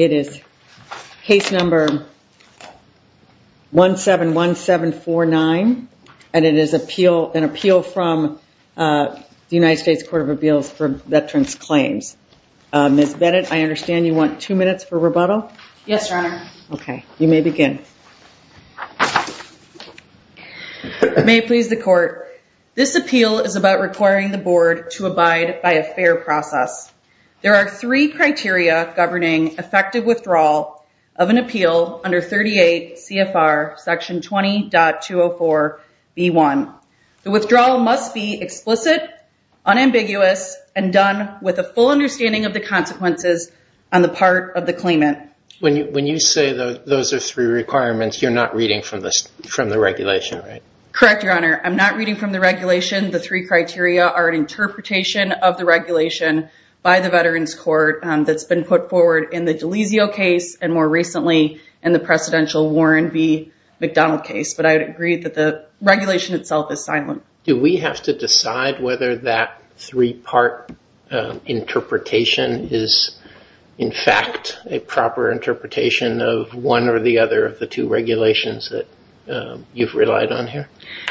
It is case number 171749 and it is an appeal from the United States Court of Appeals for Appeals. Ms. Bennett, I understand you want two minutes for rebuttal? Ms. Bennett Yes, Your Honor. Ms. Bennett Okay. You may begin. Ms. Bennett May it please the Court, this appeal is about requiring the Board to abide by a fair process. There are three criteria governing effective withdrawal of an appeal under 38 CFR section 20.204b1. The withdrawal must be explicit, unambiguous and done with a full understanding of the consequences on the part of the claimant. Mr. Zients When you say those are three requirements, you're not reading from the regulation, right? Ms. Bennett Correct, Your Honor. I'm not reading from the regulation. The three criteria are an interpretation of the regulation by the Veterans Court that's been put forward in the D'Alesio case and more recently in the presidential Warren v. McDonald case. But I would agree that the regulation itself is silent. Mr. Zients Do we have to decide whether that three-part interpretation is in fact a proper interpretation of one or the other of the two regulations that you've relied on here? Ms. Bennett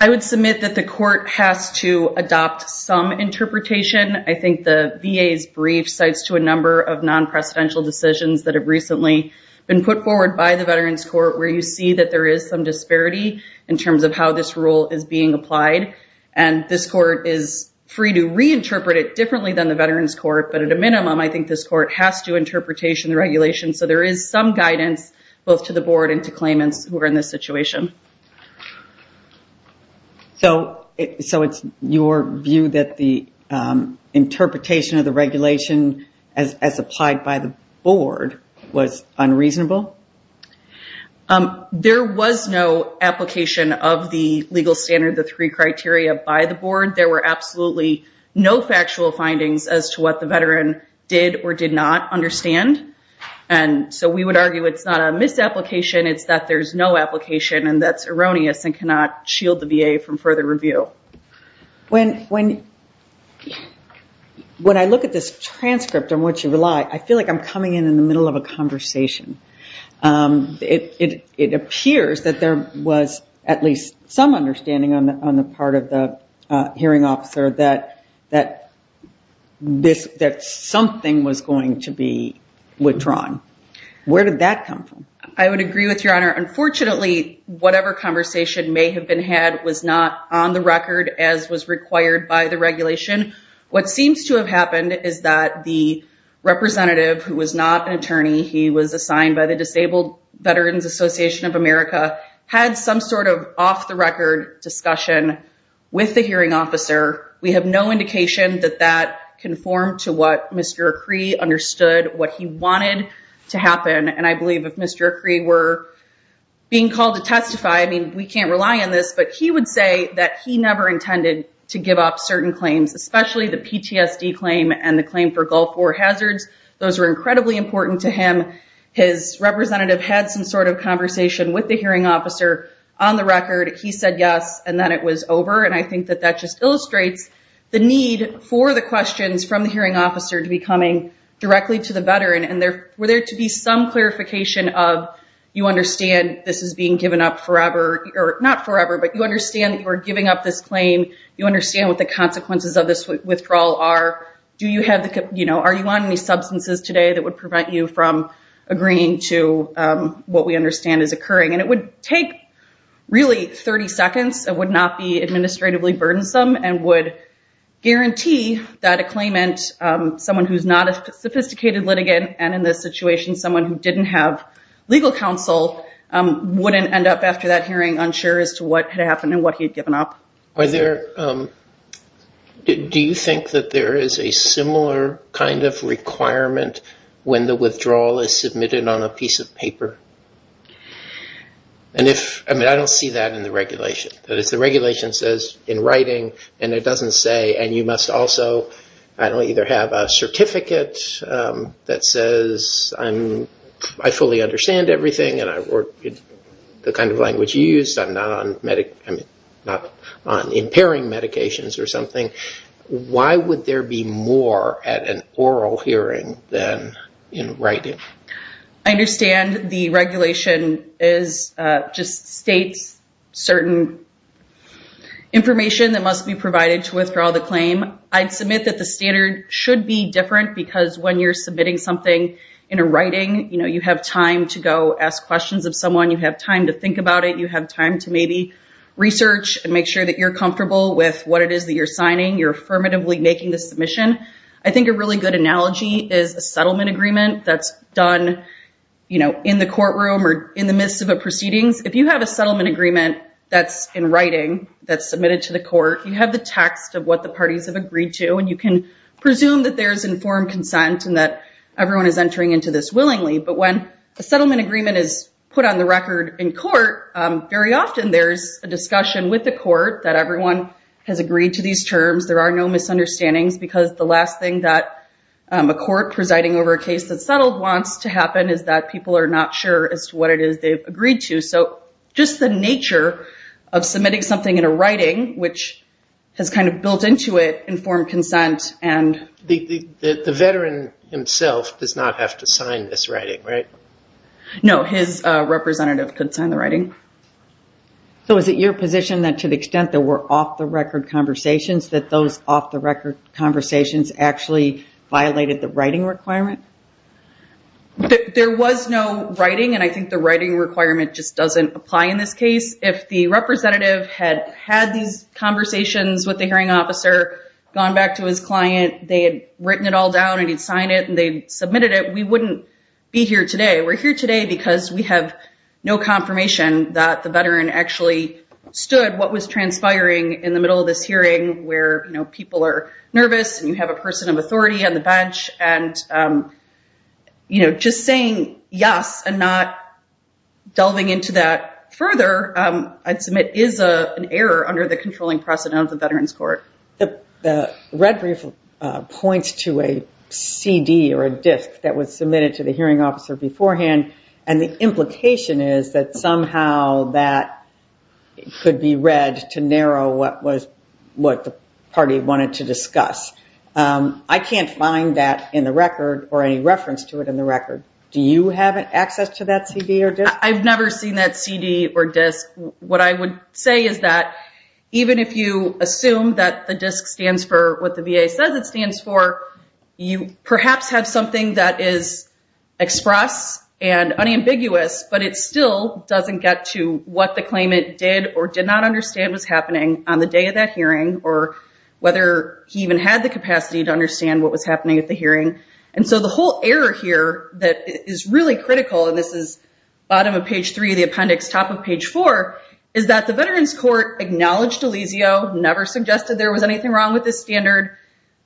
I would submit that the Court has to adopt some interpretation. I think the VA's brief cites to a number of non-presidential decisions that have recently been put forward by the Veterans Court where you see that there is some disparity in terms of how this rule is being applied. And this Court is free to reinterpret it differently than the Veterans Court, but at a minimum I think this Court has to interpretation the regulation. So there is some guidance both to the Board and to claimants who are in this situation. Ms. Zients So it's your view that the interpretation of the regulation as applied by the Board was unreasonable? Ms. Bennett There was no application of the legal standard the three criteria by the Board. There were absolutely no factual findings as to what the Veteran did or did not understand. And so we would argue it's not a misapplication, it's that there's no application and that's erroneous and cannot shield the VA from further review. Ms. Zients When I look at this transcript on which you are coming in in the middle of a conversation, it appears that there was at least some understanding on the part of the hearing officer that something was going to be withdrawn. Where did that come from? Ms. Bennett I would agree with Your Honor, unfortunately whatever conversation may have been had was not on the record as was required by the regulation. What seems to have happened is that the representative who was not an attorney, he was assigned by the Disabled Veterans Association of America, had some sort of off-the-record discussion with the hearing officer. We have no indication that that conformed to what Mr. Acree understood, what he wanted to happen. And I believe if Mr. Acree were being called to testify, I mean we can't rely on this, but he would say that he never intended to give up certain claims, especially the PTSD claim and the claim for Gulf War hazards. Those were incredibly important to him. His representative had some sort of conversation with the hearing officer on the record. He said yes and then it was over. And I think that that just illustrates the need for the questions from the hearing officer to be coming directly to the veteran and were there to be some clarification of, you understand this is being given up forever, or not forever, but you understand that you are giving up this claim, you understand what the consequences of this withdrawal are, are you on any substances today that would prevent you from agreeing to what we understand is occurring. And it would take really 30 seconds, it would not be administratively burdensome and would guarantee that a claimant, someone who's not a sophisticated litigant and in this situation someone who didn't have legal counsel, wouldn't end up after that hearing unsure as to what had happened and what he had given up. Do you think that there is a similar kind of requirement when the withdrawal is submitted on a piece of paper? And if, I mean I don't see that in the regulation. The regulation says in writing, and it doesn't say, and you must also either have a certificate that says, I fully understand everything and I work with the kind of language you use, I'm not on impairing medications or something. Why would there be more at an oral hearing than in writing? I understand the regulation just states certain information that must be provided to withdraw the claim. I'd submit that the standard should be different because when you're submitting something in a writing, you know, you have time to go ask questions of someone, you have time to think about it, you have time to maybe research and make sure that you're comfortable with what it is that you're signing, you're affirmatively making the submission. I think a really good analogy is a settlement agreement that's done, you know, in the courtroom or in the midst of a proceedings. If you have a settlement agreement that's in writing, that's submitted to the court, you have the text of what the parties have agreed to and you can presume that there's informed consent and that everyone is entering into this willingly. But when a settlement agreement is put on the record in court, very often there's a discussion with the court that everyone has agreed to these terms, there are no misunderstandings because the last thing that a court presiding over a case that's settled wants to happen is that people are not sure as to what it is they've agreed to. So just the nature of submitting something in a writing, which has kind of built into it informed consent and... The veteran himself does not have to sign this writing, right? No, his representative could sign the writing. So is it your position that to the extent there were off-the-record conversations, that those off-the-record conversations actually violated the writing requirement? There was no writing and I think the writing requirement just doesn't apply in this case. If the representative had had these conversations with the hearing officer, gone back to his client, they had written it all down and he'd sign it and they submitted it, we wouldn't be here today. We're here today because we have no confirmation that the veteran actually stood what was transpiring in the middle of this hearing where people are nervous and you have a person of authority on the bench and just saying yes and not delving into that further, I'd submit is an error under the controlling precedent of the Veterans Court. The red brief points to a CD or a disc that was submitted to the hearing officer beforehand and the implication is that somehow that could be read to narrow what the party wanted to discuss. I can't find that in the record or any reference to it in the record. Do you have access to that CD or disc? I've never seen that CD or disc. What I would say is that even if you assume that the disc stands for what the VA says it stands for, you perhaps have something that is expressed and unambiguous but it still doesn't get to what the claimant did or did not understand was happening on the day of that hearing or whether he even had the capacity to understand what was happening at the hearing. The whole error here that is really critical and this is bottom of page three of the appendix, top of page four, is that the Veterans Court acknowledged Elysio, never suggested there was anything wrong with this standard,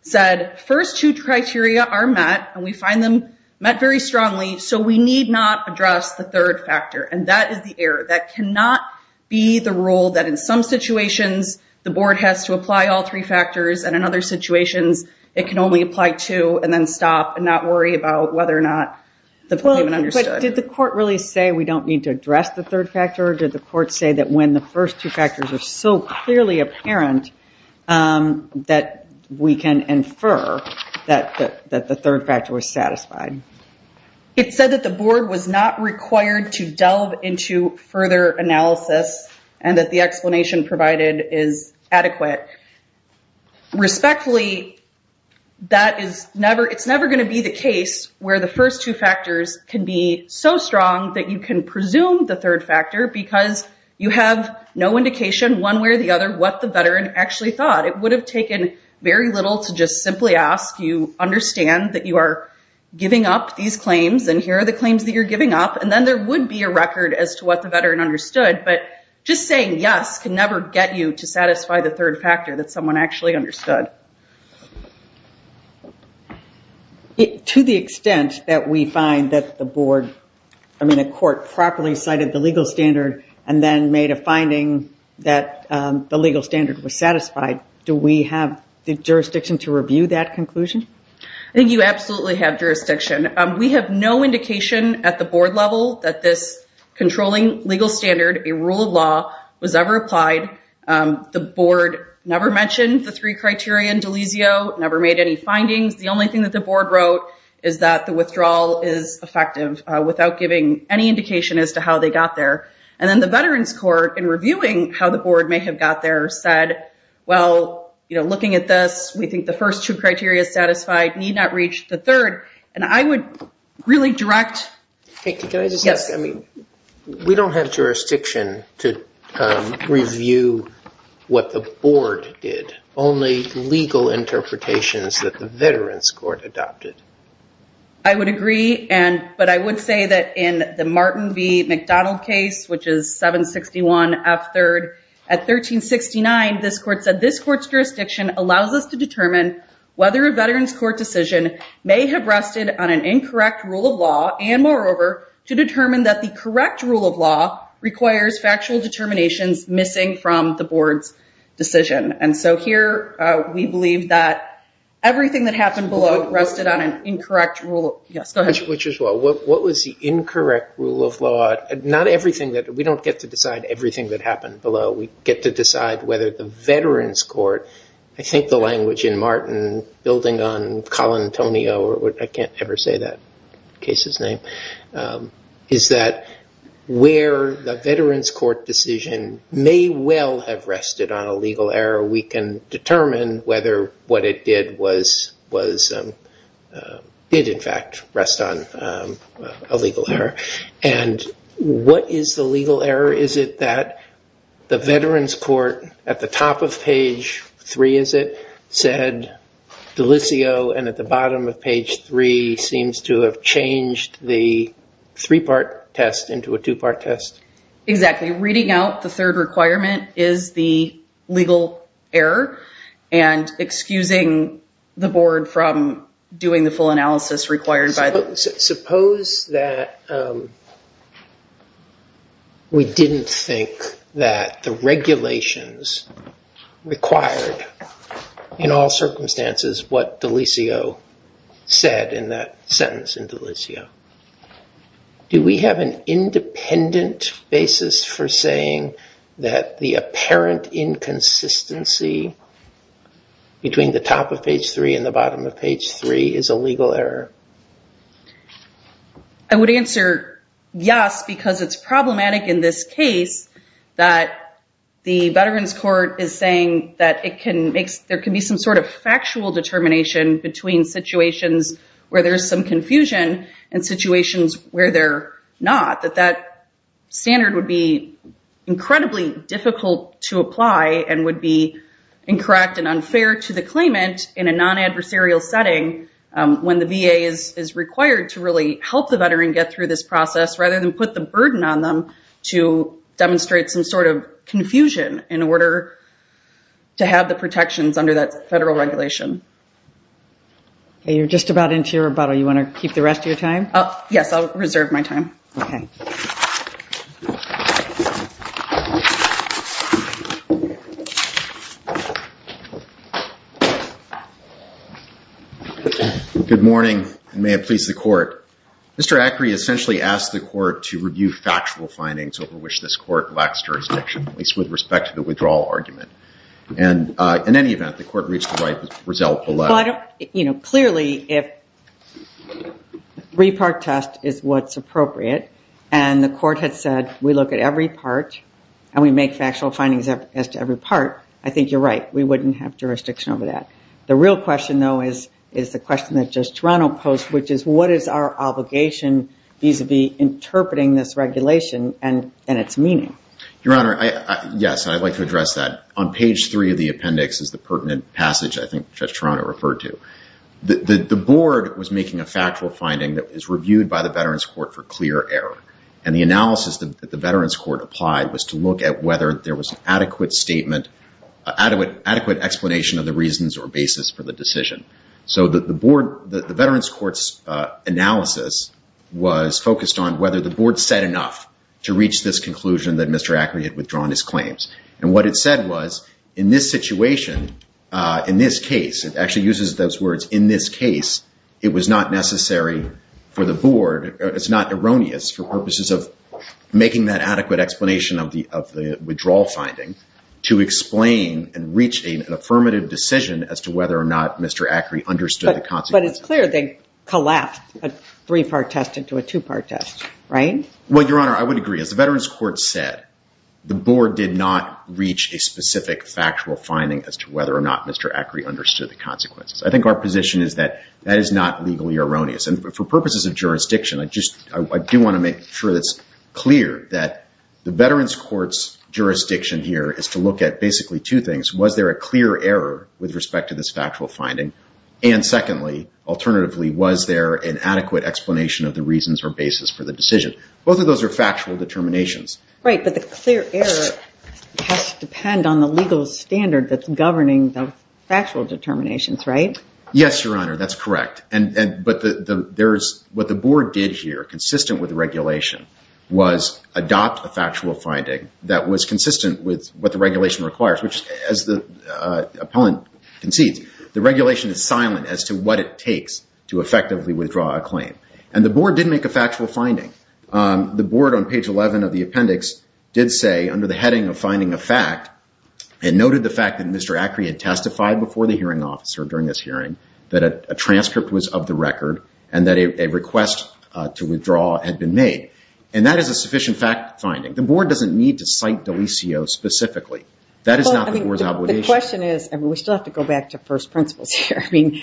said first two criteria are met and we find them met very strongly so we need not address the third factor and that is the error. That cannot be the rule that in some situations the board has to apply all three factors and in other situations it can only apply two and then stop and not worry about whether or not the claimant understood. Did the court really say we don't need to address the third factor? Did the court say that when the first two factors are so clearly apparent that we can infer that the third factor was satisfied? It said that the board was not required to delve into further analysis and that the explanation provided is adequate. Respectfully, that is never, it's never going to be the case where the first two factors can be so strong that you can presume the third factor because you have no indication one way or the other what the veteran actually thought. It would have taken very little to just simply ask you understand that you are giving up these claims and here are the claims that you're giving up and then there would be a record as to what the veteran understood but just saying yes can never get you to satisfy the third factor that someone actually understood. To the extent that we find that the board, I mean the court properly cited the legal standard and then made a finding that the legal standard was satisfied, do we have the jurisdiction to review that conclusion? I think you absolutely have jurisdiction. We have no indication at the board level that this controlling legal standard, a rule of law was ever applied. The board never mentioned the three criteria in D'Alesio, never made any findings. The only thing that the board wrote is that the withdrawal is effective without giving any indication as to how they got there and then the veterans court in reviewing how the board may have got there said, well, you know, looking at this, we think the first two criteria is satisfied, need not reach the third and I would really direct. Can I just ask, I mean, we don't have jurisdiction to review what the board did. Only legal interpretations that the veterans court adopted. I would agree, but I would say that in the Martin V. McDonald case, which is 761 F third at 1369, this court said, this court's jurisdiction allows us to determine whether a veterans court decision may have rested on an incorrect rule of law and moreover, to determine that the correct rule of law requires factual determinations missing from the board's decision. So here we believe that everything that happened below rested on an incorrect rule of law. Yes, go ahead. Which is what? What was the incorrect rule of law? Not everything that we don't get to decide everything that happened below. We get to decide whether the veterans court, I think the language in Martin building on Colin Antonio, I can't ever say that case's name, is that where the veterans court decision may well have rested on a legal error. We can determine whether what it did was, did in fact rest on a legal error. And what is the legal error? Is it that the veterans court at the top of page three, is it, said Delisio and at the bottom of page three seems to have changed the three-part test into a two-part test? Exactly. Reading out the third requirement is the legal error and excusing the board from doing the full analysis required by the- Suppose that we didn't think that the regulations required in all circumstances what Delisio said in that sentence in Delisio. Do we have an independent basis for saying that the apparent inconsistency between the top of page three and the bottom of page three is a legal error? I would answer yes, because it's problematic in this case that the veterans court is saying that it can make, there can be some sort of factual determination between situations where there's some confusion and situations where they're not, that that standard would be incredibly difficult to apply and would be incorrect and unfair to the claimant in a non-adversarial setting when the VA is required to really help the veteran get through this process rather than put the burden on them to demonstrate some sort of confusion in order to have the protections under that federal regulation. You're just about into your rebuttal. You want to keep the rest of your time? Yes. I'll reserve my time. Good morning. And may it please the court. Mr. Acri essentially asked the court to review factual findings over which this court lacks jurisdiction, at least with respect to the withdrawal argument. And in any event, the court reached the right result. Well, I don't, you know, clearly if three-part test is what's appropriate and the court had said we look at every part and we make factual findings as to every part, I think you're right. We wouldn't have jurisdiction over that. The real question, though, is the question that Judge Toronto posed, which is what is our obligation vis-a-vis interpreting this regulation and its meaning? Your Honor, yes. I'd like to address that. On page three of the appendix is the pertinent passage I think Judge Toronto referred to. The board was making a factual finding that was reviewed by the Veterans Court for clear error. And the analysis that the Veterans Court applied was to look at whether there was an adequate statement, adequate explanation of the reasons or basis for the decision. So the board, the Veterans Court's analysis was focused on whether the board said enough to reach this conclusion that Mr. Ackery had withdrawn his claims. And what it said was in this situation, in this case, it actually uses those words in this case, it was not necessary for the board, it's not erroneous for purposes of making that adequate explanation of the withdrawal finding to explain and reach an affirmative decision as to whether or not Mr. Ackery understood the consequences. But it's clear they collapsed a three-part test into a two-part test, right? Well, Your Honor, I would agree. As the Veterans Court said, the board did not reach a specific factual finding as to whether or not Mr. Ackery understood the consequences. I think our position is that that is not legally erroneous. And for purposes of jurisdiction, I do want to make sure it's clear that the Veterans Court's jurisdiction here is to look at basically two things. Was there a clear error with respect to this factual finding? And secondly, alternatively, was there an adequate explanation of the reasons or basis for the decision? Both of those are factual determinations. Right, but the clear error has to depend on the legal standard that's governing the factual determinations, right? Yes, Your Honor, that's correct. But what the board did here, consistent with the regulation, was adopt a factual finding that was consistent with what the regulation requires, which as the appellant concedes, the regulation is silent as to what it takes to effectively withdraw a claim. And the board did make a factual finding. The board on page 11 of the appendix did say, under the heading of finding a fact, it noted the fact that Mr. Ackery had testified before the hearing officer during this hearing that a transcript was of the record and that a request to withdraw had been made. And that is a sufficient fact finding. The board doesn't need to cite Delisio specifically. That is not the board's obligation. The question is, and we still have to go back to first principles here, I mean,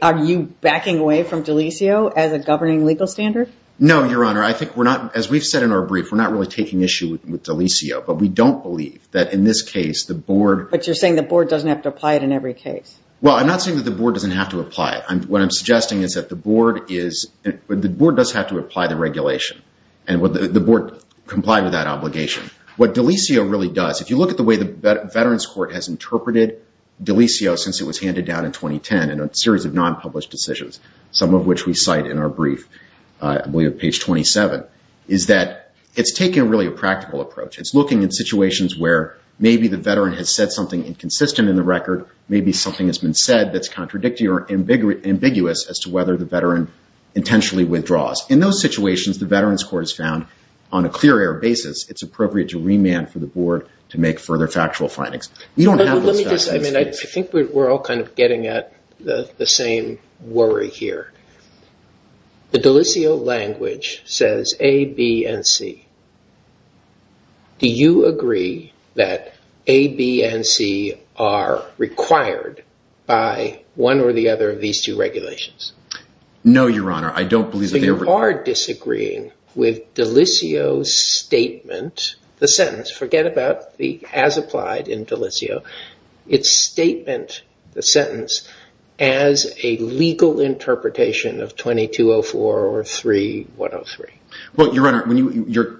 are you backing away from Delisio as a governing legal standard? No, Your Honor. I think we're not, as we've said in our brief, we're not really taking issue with Delisio. But we don't believe that in this case the board... But you're saying the board doesn't have to apply it in every case. Well, I'm not saying that the board doesn't have to apply it. What I'm suggesting is that the board does have to apply the regulation and the board comply with that obligation. What Delisio really does, if you look at the way the Veterans Court has interpreted Delisio since it was handed down in 2010 in a series of non-published decisions, some of which we cite in our brief, I believe page 27, is that it's taking really a practical approach. It's looking at situations where maybe the veteran has said something inconsistent in the record, maybe something has been said that's contradictory or ambiguous as to whether the veteran intentionally withdraws. In those situations, the Veterans Court has found on a clear air basis, it's appropriate to remand for the board to make further factual findings. I think we're all kind of getting at the same worry here. The Delisio language says A, B, and C. Do you agree that A, B, and C are required by one or the other of these two regulations? No, Your Honor. I don't believe that they ever... So you are disagreeing with Delisio's statement, the sentence, forget about the as applied in Delisio, its statement, the sentence, as a legal interpretation of 2204 or 3103. Well, Your Honor,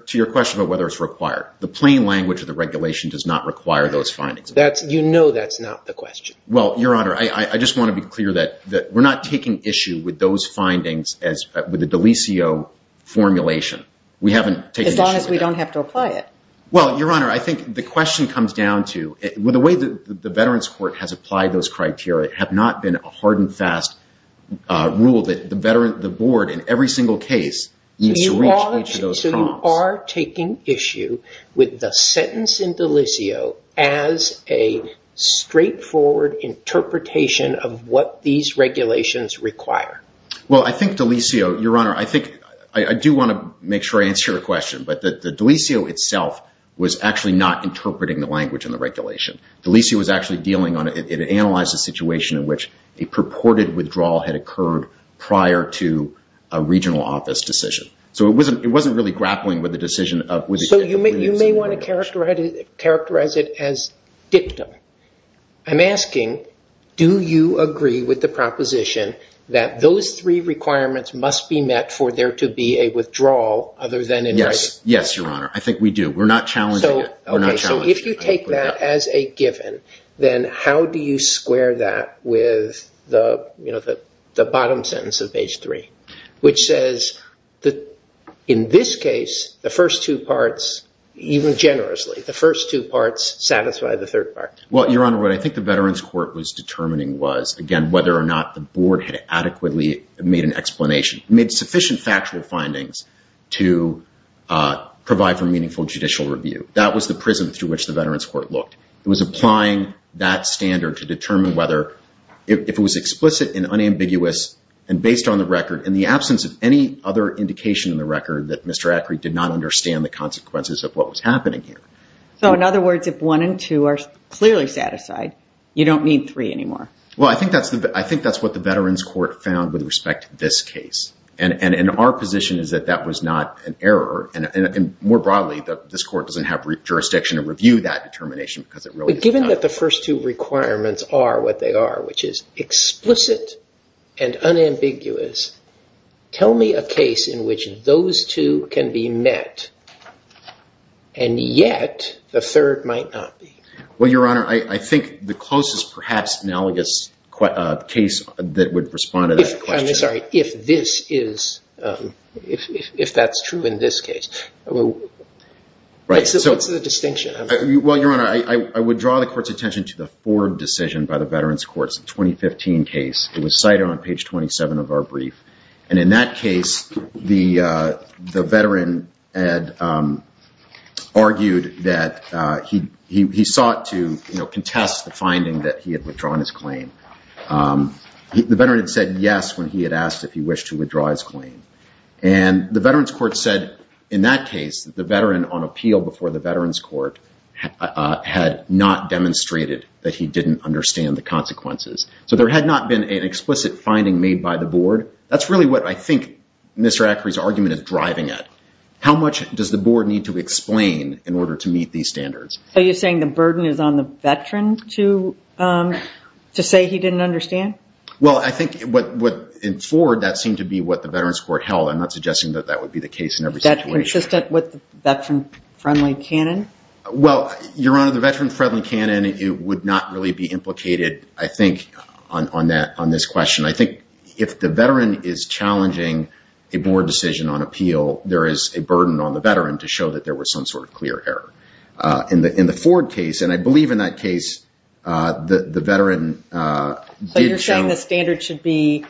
to your question about whether it's required, the plain language of the regulation does not require those findings. You know that's not the question. Well, Your Honor, I just want to be clear that we're not taking issue with those findings with the Delisio formulation. As long as we don't have to apply it. Well, Your Honor, I think the question comes down to, the way that the Veterans Court has applied those criteria have not been a hard and fast rule that the board in every single case needs to reach each of those problems. So you are taking issue with the sentence in Delisio as a straightforward interpretation of what these regulations require. Well, I think Delisio, Your Honor, I do want to make sure I answer your question, but the Delisio itself was actually not interpreting the language in the regulation. Delisio was actually dealing on it. It analyzed the situation in which a purported withdrawal had occurred prior to a regional office decision. So it wasn't really grappling with the decision. So you may want to characterize it as dictum. I'm asking, do you agree with the proposition that those three requirements must be met for there to be a withdrawal other than in writing? Yes, Your Honor, I think we do. We're not challenging it. Okay, so if you take that as a given, then how do you square that with the bottom sentence of page 3, which says that in this case, the first two parts, even generously, the first two parts satisfy the third part. Well, Your Honor, what I think the Veterans Court was determining was, again, whether or not the board had adequately made an explanation. Made sufficient factual findings to provide for meaningful judicial review. That was the prism through which the Veterans Court looked. It was applying that standard to determine whether, if it was explicit and unambiguous and based on the record, in the absence of any other indication in the record that Mr. Acri did not understand the consequences of what was happening here. So in other words, if one and two are clearly satisfied, you don't need three anymore. Well, I think that's what the Veterans Court found with respect to this case. And our position is that that was not an error. And more broadly, this court doesn't have jurisdiction to review that determination because it really is not. But given that the first two requirements are what they are, which is explicit and unambiguous, tell me a case in which those two can be met and yet the third might not be. Well, Your Honor, I think the closest perhaps analogous case that would respond to that question. I'm sorry. If this is, if that's true in this case. What's the distinction? Well, Your Honor, I would draw the court's attention to the Ford decision by the Veterans Court's 2015 case. It was cited on page 27 of our brief. And in that case, the veteran had argued that he sought to contest the finding that he had withdrawn his claim. The veteran had said yes when he had asked if he wished to withdraw his claim. And the Veterans Court said in that case that the veteran on appeal before the Veterans Court had not demonstrated that he didn't understand the consequences. So there had not been an explicit finding made by the board. That's really what I think Mr. Ackery's argument is driving at. How much does the board need to explain in order to meet these standards? Are you saying the burden is on the veteran to say he didn't understand? Well, I think in Ford, that seemed to be what the Veterans Court held. I'm not suggesting that that would be the case in every situation. Is that consistent with the veteran-friendly canon? Well, Your Honor, the veteran-friendly canon, it would not really be implicated, I think, on this question. I think if the veteran is challenging a board decision on appeal, there is a burden on the veteran to show that there was some sort of clear error. In the Ford case, and I believe in that case, the veteran did show... But you're saying the standard should be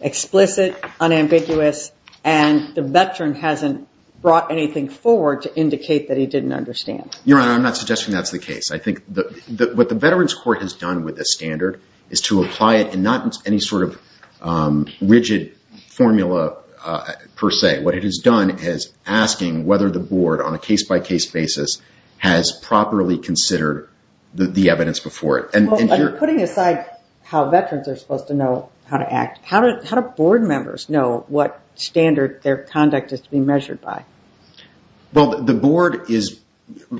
explicit, unambiguous, and the veteran hasn't brought anything forward to indicate that he didn't understand. Your Honor, I'm not suggesting that's the case. I think what the Veterans Court has done with this standard is to apply it in not any sort of rigid formula, per se. What it has done is asking whether the board, on a case-by-case basis, has properly considered the evidence before it. Well, putting aside how veterans are supposed to know how to act, how do board members know what standard their conduct is to be measured by? Well, the board is...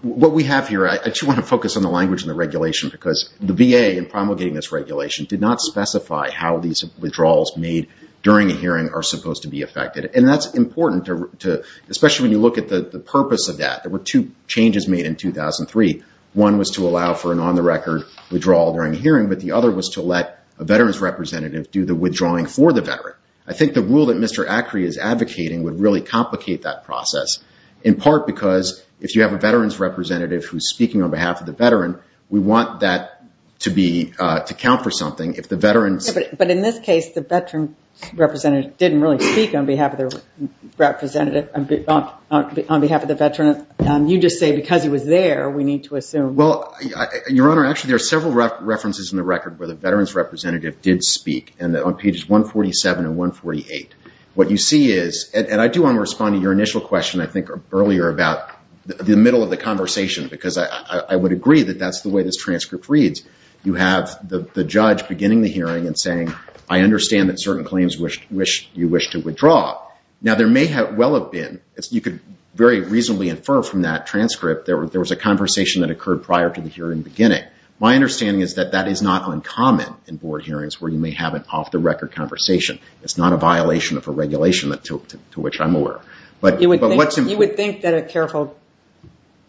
What we have here... I just want to focus on the language and the regulation because the VA, in promulgating this regulation, did not specify how these withdrawals made during a hearing are supposed to be affected. And that's important to... Especially when you look at the purpose of that. There were two changes made in 2003. One was to allow for an on-the-record withdrawal during a hearing, but the other was to let a veterans representative do the withdrawing for the veteran. I think the rule that Mr Acri is advocating would really complicate that process, in part because if you have a veterans representative who's speaking on behalf of the veteran, we want that to count for something. But in this case, the veterans representative didn't really speak on behalf of the representative... On behalf of the veteran. You just say, because he was there, we need to assume... Well, Your Honor, actually there are several references in the record where the veterans representative did speak on pages 147 and 148. What you see is... And I do want to respond to your initial question, I think, earlier, about the middle of the conversation, because I would agree that that's the way this transcript reads. You have the judge beginning the hearing and saying, I understand that certain claims you wish to withdraw. Now, there may well have been... You could very reasonably infer from that transcript there was a conversation that occurred prior to the hearing beginning. My understanding is that that is not uncommon in board hearings where you may have an off-the-record conversation. It's not a violation of a regulation, to which I'm aware. But what's... You would think that a careful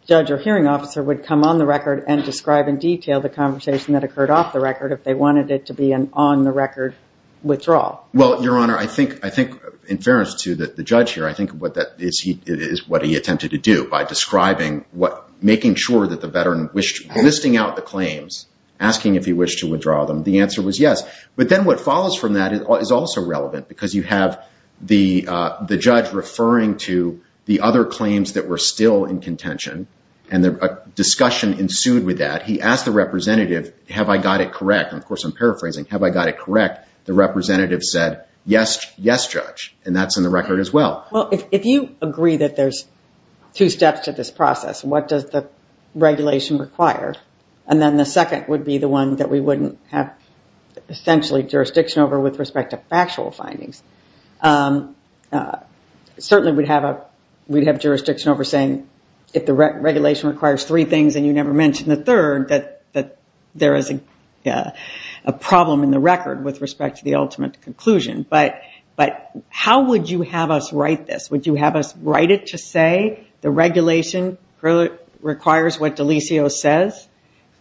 judge or hearing officer would come on the record and describe in detail the conversation that occurred off the record if they wanted it to be an on-the-record withdrawal. Well, Your Honor, I think... In fairness to the judge here, I think what that... It is what he attempted to do by describing what... Making sure that the veteran wished... Listing out the claims, asking if he wished to withdraw them, the answer was yes. But then what follows from that is also relevant, because you have the judge referring to the other claims that were still in contention, and a discussion ensued with that. He asked the representative, have I got it correct? Of course, I'm paraphrasing. Have I got it correct? The representative said, yes, judge. And that's in the record as well. Well, if you agree that there's two steps to this process, what does the regulation require? And then the second would be the one that we wouldn't have essentially jurisdiction over with respect to factual findings. Certainly, we'd have a... We'd have jurisdiction over saying if the regulation requires three things and you never mention the third, that there is a problem in the record with respect to the ultimate conclusion. But how would you have us write this? Would you have us write it to say the regulation requires what Delisio says,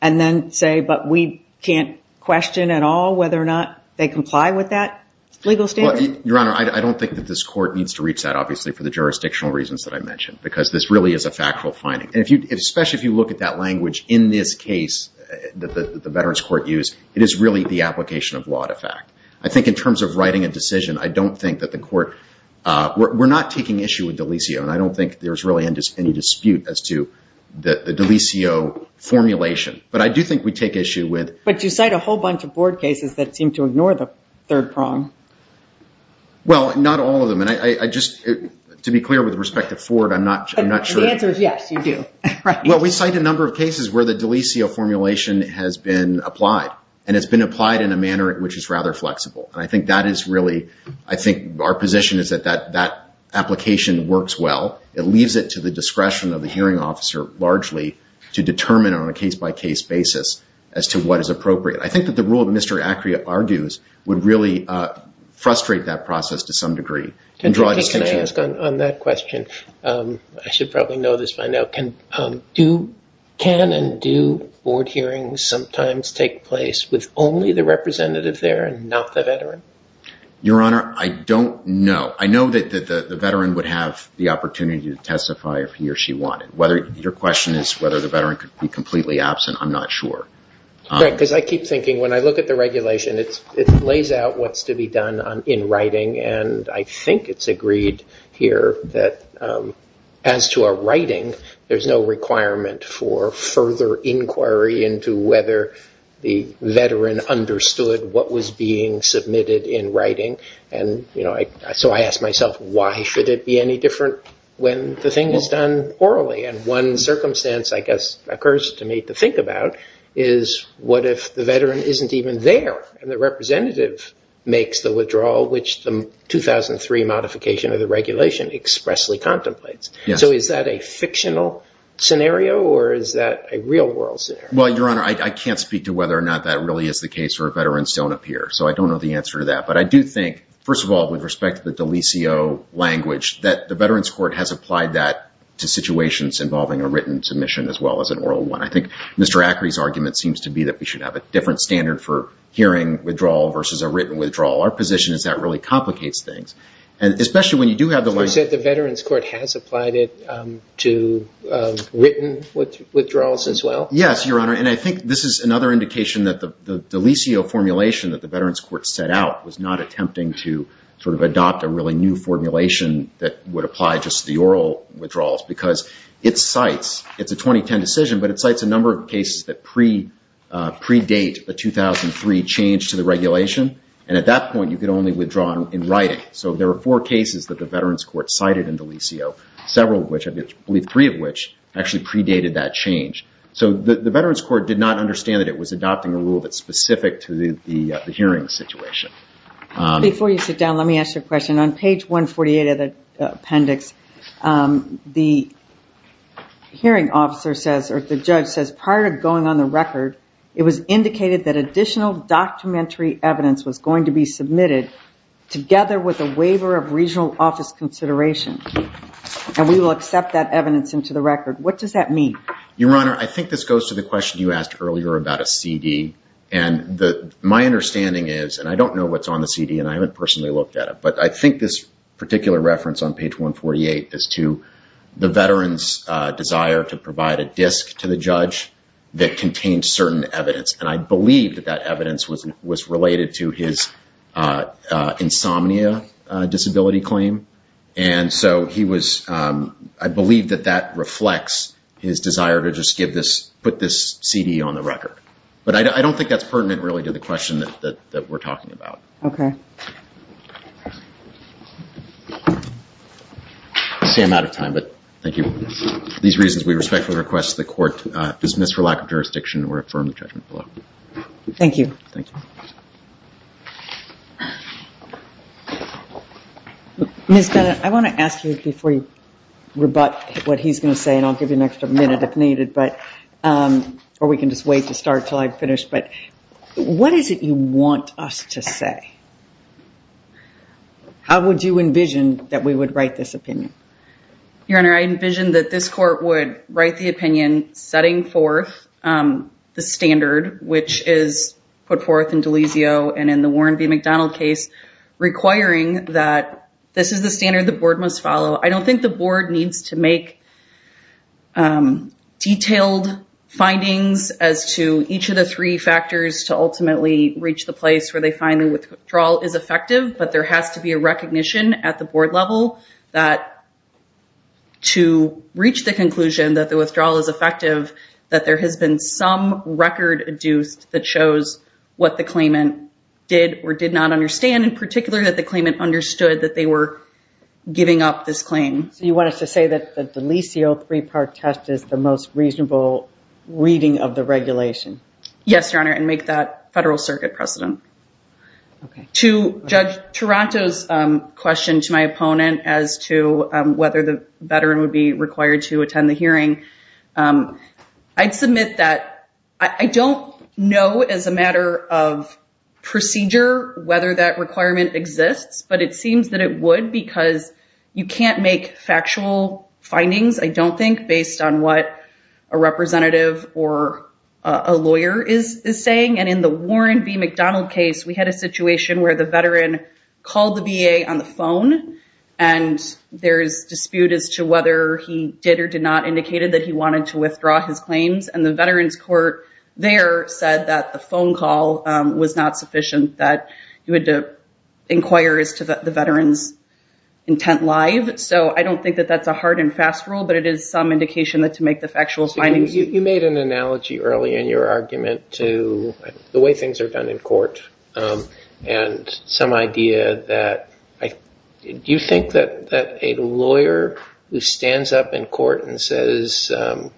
and then say, but we can't question at all whether or not they comply with that legal standard? Your Honor, I don't think that this court needs to reach that, obviously, for the jurisdictional reasons that I mentioned, because this really is a factual finding. Especially if you look at that language in this case that the Veterans Court used, it is really the application of law to fact. I think in terms of writing a decision, I don't think that the court... We're not taking issue with Delisio, and I don't think there's really any dispute as to the Delisio formulation. But I do think we take issue with... But you cite a whole bunch of board cases that seem to ignore the third prong. Well, not all of them. And I just... To be clear, with respect to Ford, I'm not sure... The answer is yes, you do. Well, we cite a number of cases where the Delisio formulation has been applied, and it's been applied in a manner which is rather flexible. And I think that is really... I think our position is that that application works well. It leaves it to the discretion of the hearing officer, largely, to determine on a case-by-case basis as to what is appropriate. I think that the rule that Mr. Acrea argues would really frustrate that process to some degree. Can I ask on that question? I should probably know this by now. Can and do board hearings sometimes take place with only the representative there and not the veteran? Your Honor, I don't know. I know that the veteran would have the opportunity to testify if he or she wanted. Your question is whether the veteran could be completely absent. I'm not sure. Right, because I keep thinking, when I look at the regulation, it lays out what's to be done in writing. And I think it's agreed here that as to a writing, there's no requirement for further inquiry into whether the veteran understood what was being submitted in writing. So I ask myself, why should it be any different when the thing is done orally? And one circumstance, I guess, occurs to me to think about is what if the veteran isn't even there and the representative makes the withdrawal, which the 2003 modification of the regulation expressly contemplates. So is that a fictional scenario or is that a real-world scenario? Well, Your Honor, I can't speak to whether or not that really is the case where veterans don't appear. So I don't know the answer to that. But I do think, first of all, with respect to the Delisio language, that the Veterans Court has applied that to situations involving a written submission as well as an oral one. I think Mr. Acri's argument seems to be that we should have a different standard for hearing withdrawal versus a written withdrawal. Our position is that really complicates things. And especially when you do have the language... So you said the Veterans Court has applied it to written withdrawals as well? Yes, Your Honor. And I think this is another indication that the Delisio formulation that the Veterans Court set out was not attempting to sort of adopt a really new formulation that would apply just to the oral withdrawals because it cites... It's a 2010 decision, but it cites a number of cases that predate the 2003 change to the regulation. And at that point, you could only withdraw in writing. So there were four cases that the Veterans Court cited in Delisio, several of which, I believe three of which, actually predated that change. So the Veterans Court did not understand that it was adopting a rule that's specific to the hearing situation. Before you sit down, let me ask you a question. On page 148 of the appendix, the hearing officer says, or the judge says, prior to going on the record, it was indicated that additional documentary evidence was going to be submitted together with a waiver of regional office consideration. And we will accept that evidence into the record. What does that mean? Your Honor, I think this goes to the question you asked earlier about a CD. And my understanding is, and I don't know what's on the CD and I haven't personally looked at it, but I think this particular reference on page 148 is to the veteran's desire to provide a disc to the judge that contained certain evidence. And I believe that that evidence was related to his insomnia disability claim. And so he was, I believe that that reflects his desire to just give this, put this CD on the record. But I don't think that's pertinent really to the question that we're talking about. Okay. See, I'm out of time, but thank you. For these reasons, we respectfully request that the court dismiss for lack of jurisdiction or affirm the judgment below. Thank you. Ms. Bennett, I want to ask you before you rebut what he's going to say and I'll give you an extra minute if needed, but, or we can just wait to start till I'm finished. But what is it you want us to say? How would you envision that we would write this opinion? Your Honor, I envision that this court would write the opinion setting forth the standard which is put forth in Delizio and in the Warren B. McDonald case requiring that this is the standard the board must follow. I don't think the board needs to make detailed findings as to each of the three factors to ultimately reach the place where they find the withdrawal is effective, but there has to be a recognition at the board level that to reach the conclusion that the withdrawal is effective that there has been some record produced that shows what the claimant did or did not understand in particular that the claimant understood that they were giving up this claim. So you want us to say that the Delizio three-part test is the most reasonable reading of the regulation? Yes, Your Honor and make that Federal Circuit precedent. To Judge Taranto's question to my opponent as to whether the veteran would be required to attend the hearing, I'd submit that I don't know as a matter of procedure whether that requirement exists, but it seems that it would because you can't make factual findings I don't think based on what a representative or a lawyer is saying and in the Warren B. McDonald case we had a situation where the veteran called the VA on the phone and there's dispute as to whether he did or did not indicated that he wanted to withdraw his claims and the veteran's court there said that the phone call was not sufficient that he would inquire as to the veteran's intent live so I don't think that that's a hard and fast rule but it is some indication that to make the factual findings You made an analogy early in your argument to the way things are done in court and some idea that do you think that a lawyer who stands up in court and says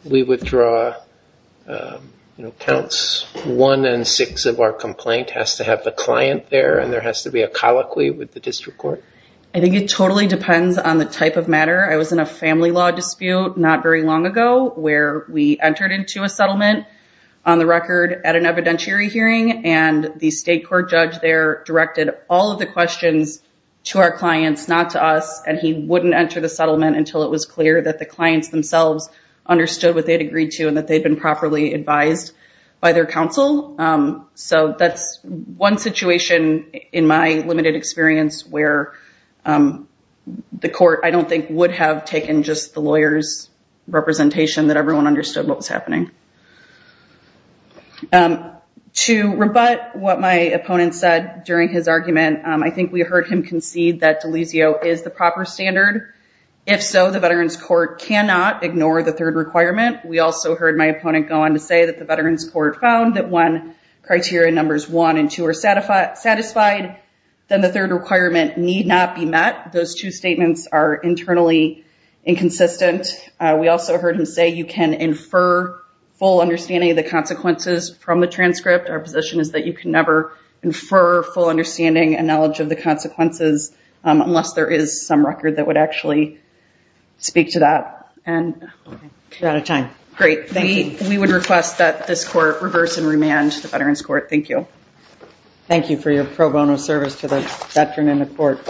we withdraw counts one and six of our complaint has to have the client there and there has to be a colloquy with the district court I think it totally depends on the type of matter I was in a family law dispute not very long ago where we entered into a settlement on the record at an evidentiary hearing and the state court judge there directed all of the questions to our clients not to us and he wouldn't enter the settlement until it was clear that the clients themselves understood what they had agreed to and that they had been properly advised by their counsel so that's one situation in my limited experience where the court I don't think would have taken just the lawyers representation that everyone understood what was happening to rebut what my opponent said during his argument I think we heard him concede that Delizio is the proper standard if so the veterans court cannot ignore the third requirement we also heard my opponent go on to say that the veterans court found that when criteria numbers one and two are satisfied then the third requirement need not be met those two statements are not enough to speak to that we would request that this court reverse and remand the veterans court thank you thank you for your pro bono service to the veteran in the